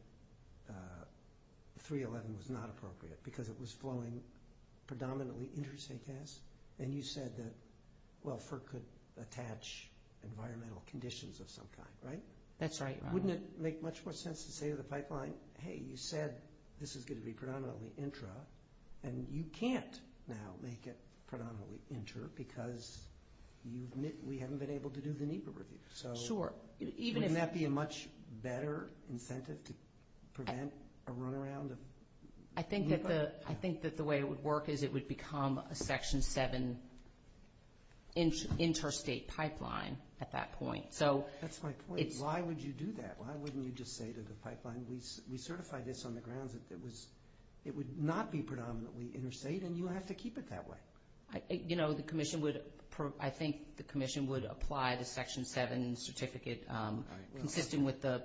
311 was not appropriate, because it was flowing predominantly interstate gas, and you said that, well, FERC could attach environmental conditions of some kind, right? That's right. Wouldn't it make much more sense to say to the pipeline, hey, you said this is going to be predominantly intra, and you can't now make it predominantly inter because we haven't been able to do the NEPA review. Sure. Wouldn't that be a much better incentive to prevent a runaround? I think that the way it would work is it would become a Section 7 interstate pipeline at that point. That's my point. Why would you do that? Why wouldn't you just say to the pipeline, we certified this on the grounds that it would not be predominantly interstate, and you have to keep it that way? You know, I think the Commission would apply the Section 7 certificate consistent with the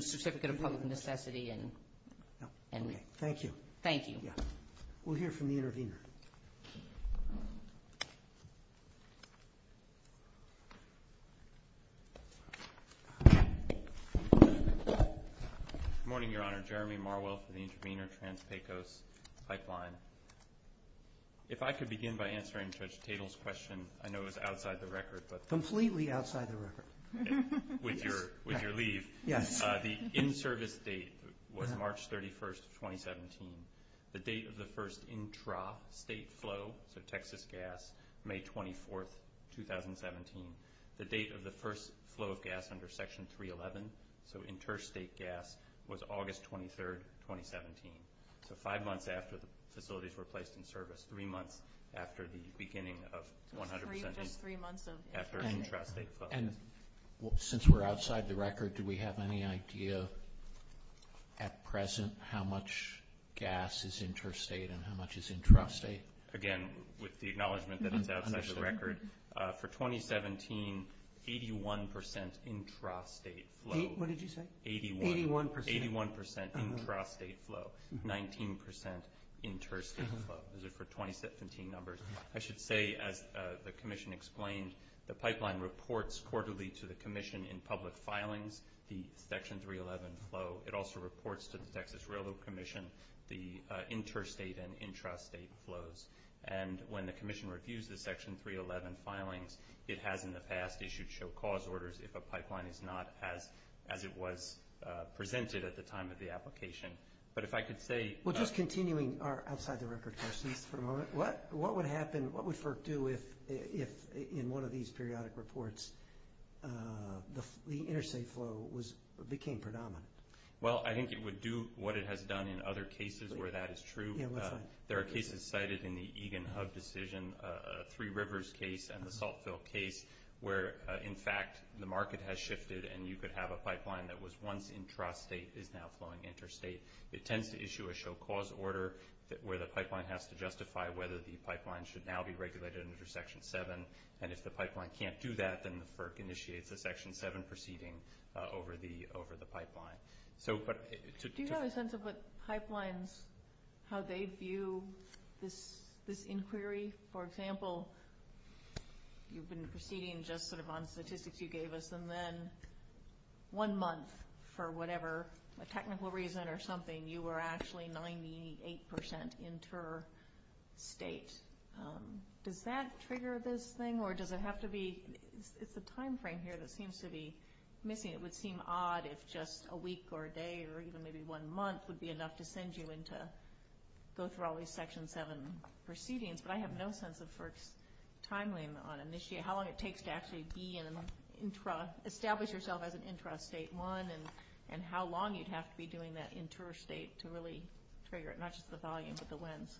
Certificate of Public Necessity. Thank you. Thank you. We'll hear from the intervener. Good morning, Your Honor. Jeremy Marwell for the intervener, Trans-Pecos Pipeline. If I could begin by answering Judge Tatel's question, I know it was outside the record. Completely outside the record. With your leave. Yes. The in-service date was March 31, 2017, the date of the first intra-state flow, so Texas gas, May 24, 2017, the date of the first flow of gas under Section 311, so interstate gas, was August 23, 2017, so five months after the facilities were placed in service, three months after the beginning of 100% interest rate flows. And since we're outside the record, do we have any idea at present how much gas is interstate and how much is intrastate? Again, with the acknowledgment that it's outside the record, for 2017, 81% intrastate flow. What did you say? 81%. 81% intrastate flow, 19% interstate flow. Those are for 2017 numbers. I should say, as the Commission explained, the pipeline reports quarterly to the Commission in public filings the Section 311 flow. It also reports to the Texas Railroad Commission the interstate and intrastate flows. And when the Commission reviews the Section 311 filings, it has in the past issued show-cause orders if a pipeline is not as it was presented at the time of the application. But if I could say – Well, just continuing our outside-the-record questions for a moment, what would happen, what would FERC do if, in one of these periodic reports, the interstate flow became predominant? Well, I think it would do what it has done in other cases where that is true. Yeah, what's that? There are cases cited in the Egan Hub decision, Three Rivers case and the Saltville case, where, in fact, the market has shifted and you could have a pipeline that was once intrastate is now flowing interstate. It tends to issue a show-cause order where the pipeline has to justify whether the pipeline should now be regulated under Section 7. And if the pipeline can't do that, then the FERC initiates a Section 7 proceeding over the pipeline. Do you have a sense of what pipelines – how they view this inquiry? For example, you've been proceeding just sort of on statistics you gave us, and then one month, for whatever technical reason or something, you were actually 98 percent interstate. Does that trigger this thing, or does it have to be – it's the timeframe here that seems to be missing. It would seem odd if just a week or a day or even maybe one month would be enough to send you in to go through all these Section 7 proceedings. But I have no sense of FERC's timeline on how long it takes to actually establish yourself as an intrastate one and how long you'd have to be doing that interstate to really trigger it, not just the volume but the lens.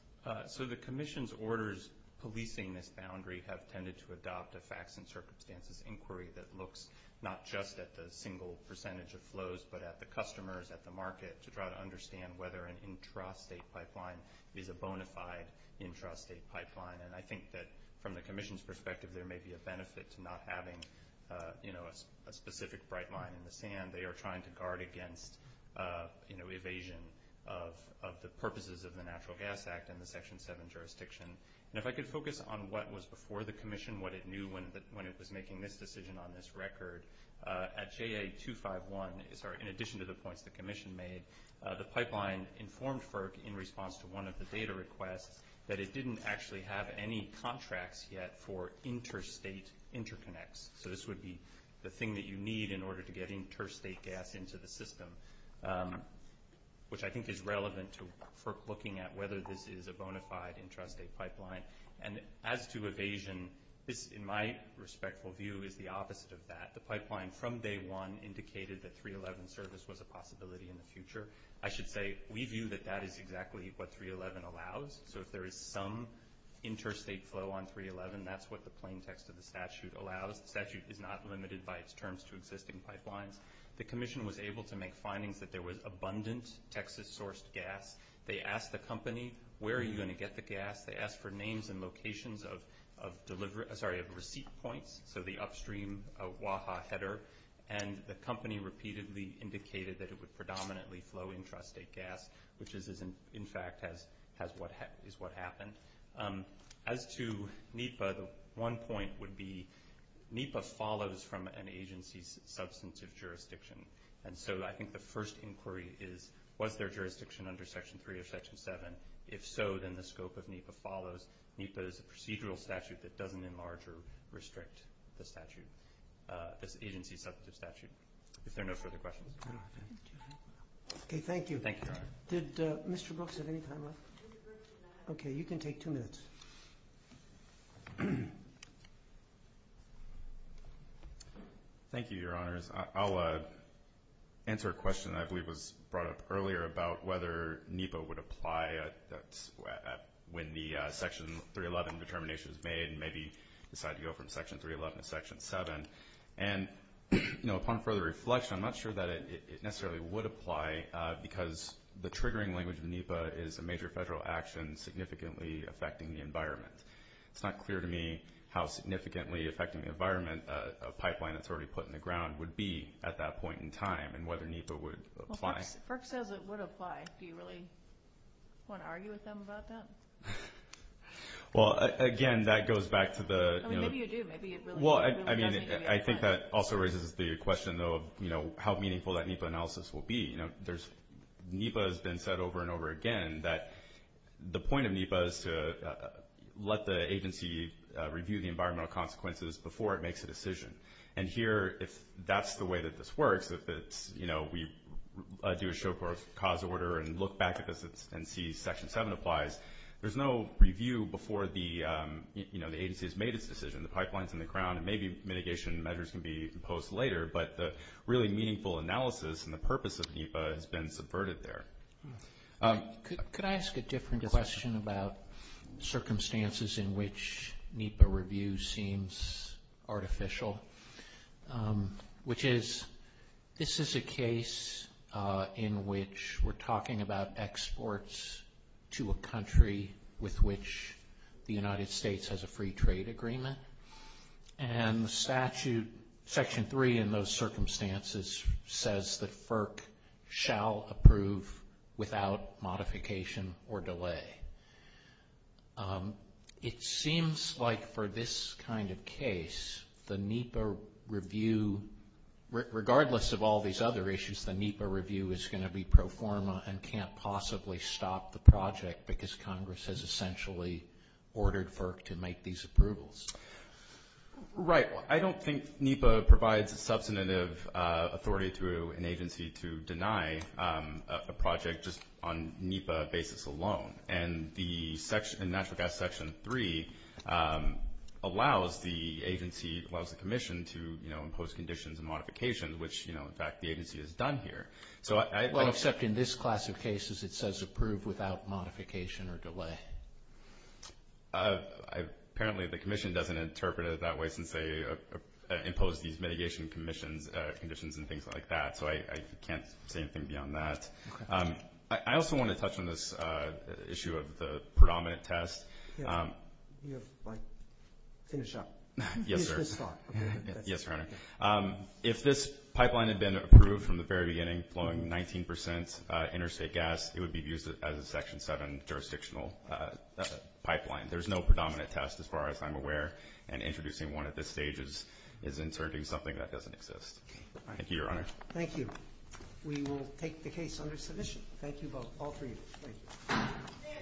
So the Commission's orders policing this boundary have tended to adopt a facts and circumstances inquiry that looks not just at the single percentage of flows but at the customers, at the market, to try to understand whether an intrastate pipeline is a bona fide intrastate pipeline. And I think that from the Commission's perspective, there may be a benefit to not having a specific bright line in the sand. They are trying to guard against evasion of the purposes of the Natural Gas Act and the Section 7 jurisdiction. And if I could focus on what was before the Commission, what it knew when it was making this decision on this record, at JA251, in addition to the points the Commission made, the pipeline informed FERC in response to one of the data requests that it didn't actually have any contracts yet for interstate interconnects. So this would be the thing that you need in order to get interstate gas into the system, which I think is relevant for looking at whether this is a bona fide intrastate pipeline. And as to evasion, this, in my respectful view, is the opposite of that. The pipeline from day one indicated that 311 service was a possibility in the future. I should say we view that that is exactly what 311 allows. So if there is some interstate flow on 311, that's what the plain text of the statute allows. The statute is not limited by its terms to existing pipelines. The Commission was able to make findings that there was abundant Texas-sourced gas. They asked the company, where are you going to get the gas? They asked for names and locations of receipt points, so the upstream Oaha header, and the company repeatedly indicated that it would predominantly flow intrastate gas, which is, in fact, what happened. As to NEPA, the one point would be NEPA follows from an agency's substantive jurisdiction. And so I think the first inquiry is, was there jurisdiction under Section 3 of Section 7? If so, then the scope of NEPA follows. NEPA is a procedural statute that doesn't enlarge or restrict the agency's substantive statute, if there are no further questions. Okay, thank you. Did Mr. Brooks have any time left? Okay, you can take two minutes. Thank you, Your Honors. I'll answer a question that I believe was brought up earlier about whether NEPA would apply when the Section 311 determination is made and maybe decide to go from Section 311 to Section 7. And upon further reflection, I'm not sure that it necessarily would apply because the triggering language of NEPA is a major federal action significantly affecting the environment. It's not clear to me how significantly affecting the environment a pipeline that's already put in the ground would be at that point in time and whether NEPA would apply. Brooks says it would apply. Do you really want to argue with him about that? Well, again, that goes back to the – I mean, maybe you do. Well, I mean, I think that also raises the question, though, of how meaningful that NEPA analysis will be. NEPA has been said over and over again that the point of NEPA is to let the agency review the environmental consequences before it makes a decision. And here, if that's the way that this works, if we do a show-cause order and look back at this and see Section 7 applies, there's no review before the agency has made its decision, the pipeline's in the ground, and maybe mitigation measures can be imposed later. But the really meaningful analysis and the purpose of NEPA has been subverted there. Could I ask a different question about circumstances in which NEPA review seems artificial, which is this is a case in which we're talking about exports to a country with which the United States has a free trade agreement. And the statute, Section 3 in those circumstances, says that FERC shall approve without modification or delay. It seems like for this kind of case, the NEPA review, regardless of all these other issues, the NEPA review is going to be pro forma and can't possibly stop the project because Congress has essentially ordered FERC to make these approvals. Right. I don't think NEPA provides a substantive authority to an agency to deny a project just on NEPA basis alone. And the Natural Gas Section 3 allows the agency, allows the commission to impose conditions and modifications, which, in fact, the agency has done here. Well, except in this class of cases it says approve without modification or delay. Apparently the commission doesn't interpret it that way since they impose these mitigation conditions and things like that. So I can't say anything beyond that. I also want to touch on this issue of the predominant test. You have, like, finish up. Yes, sir. Okay. Yes, Your Honor. If this pipeline had been approved from the very beginning, flowing 19 percent interstate gas, it would be used as a Section 7 jurisdictional pipeline. There's no predominant test as far as I'm aware, and introducing one at this stage is inserting something that doesn't exist. Thank you, Your Honor. Thank you. We will take the case under submission. Thank you both, all three of you. Thank you.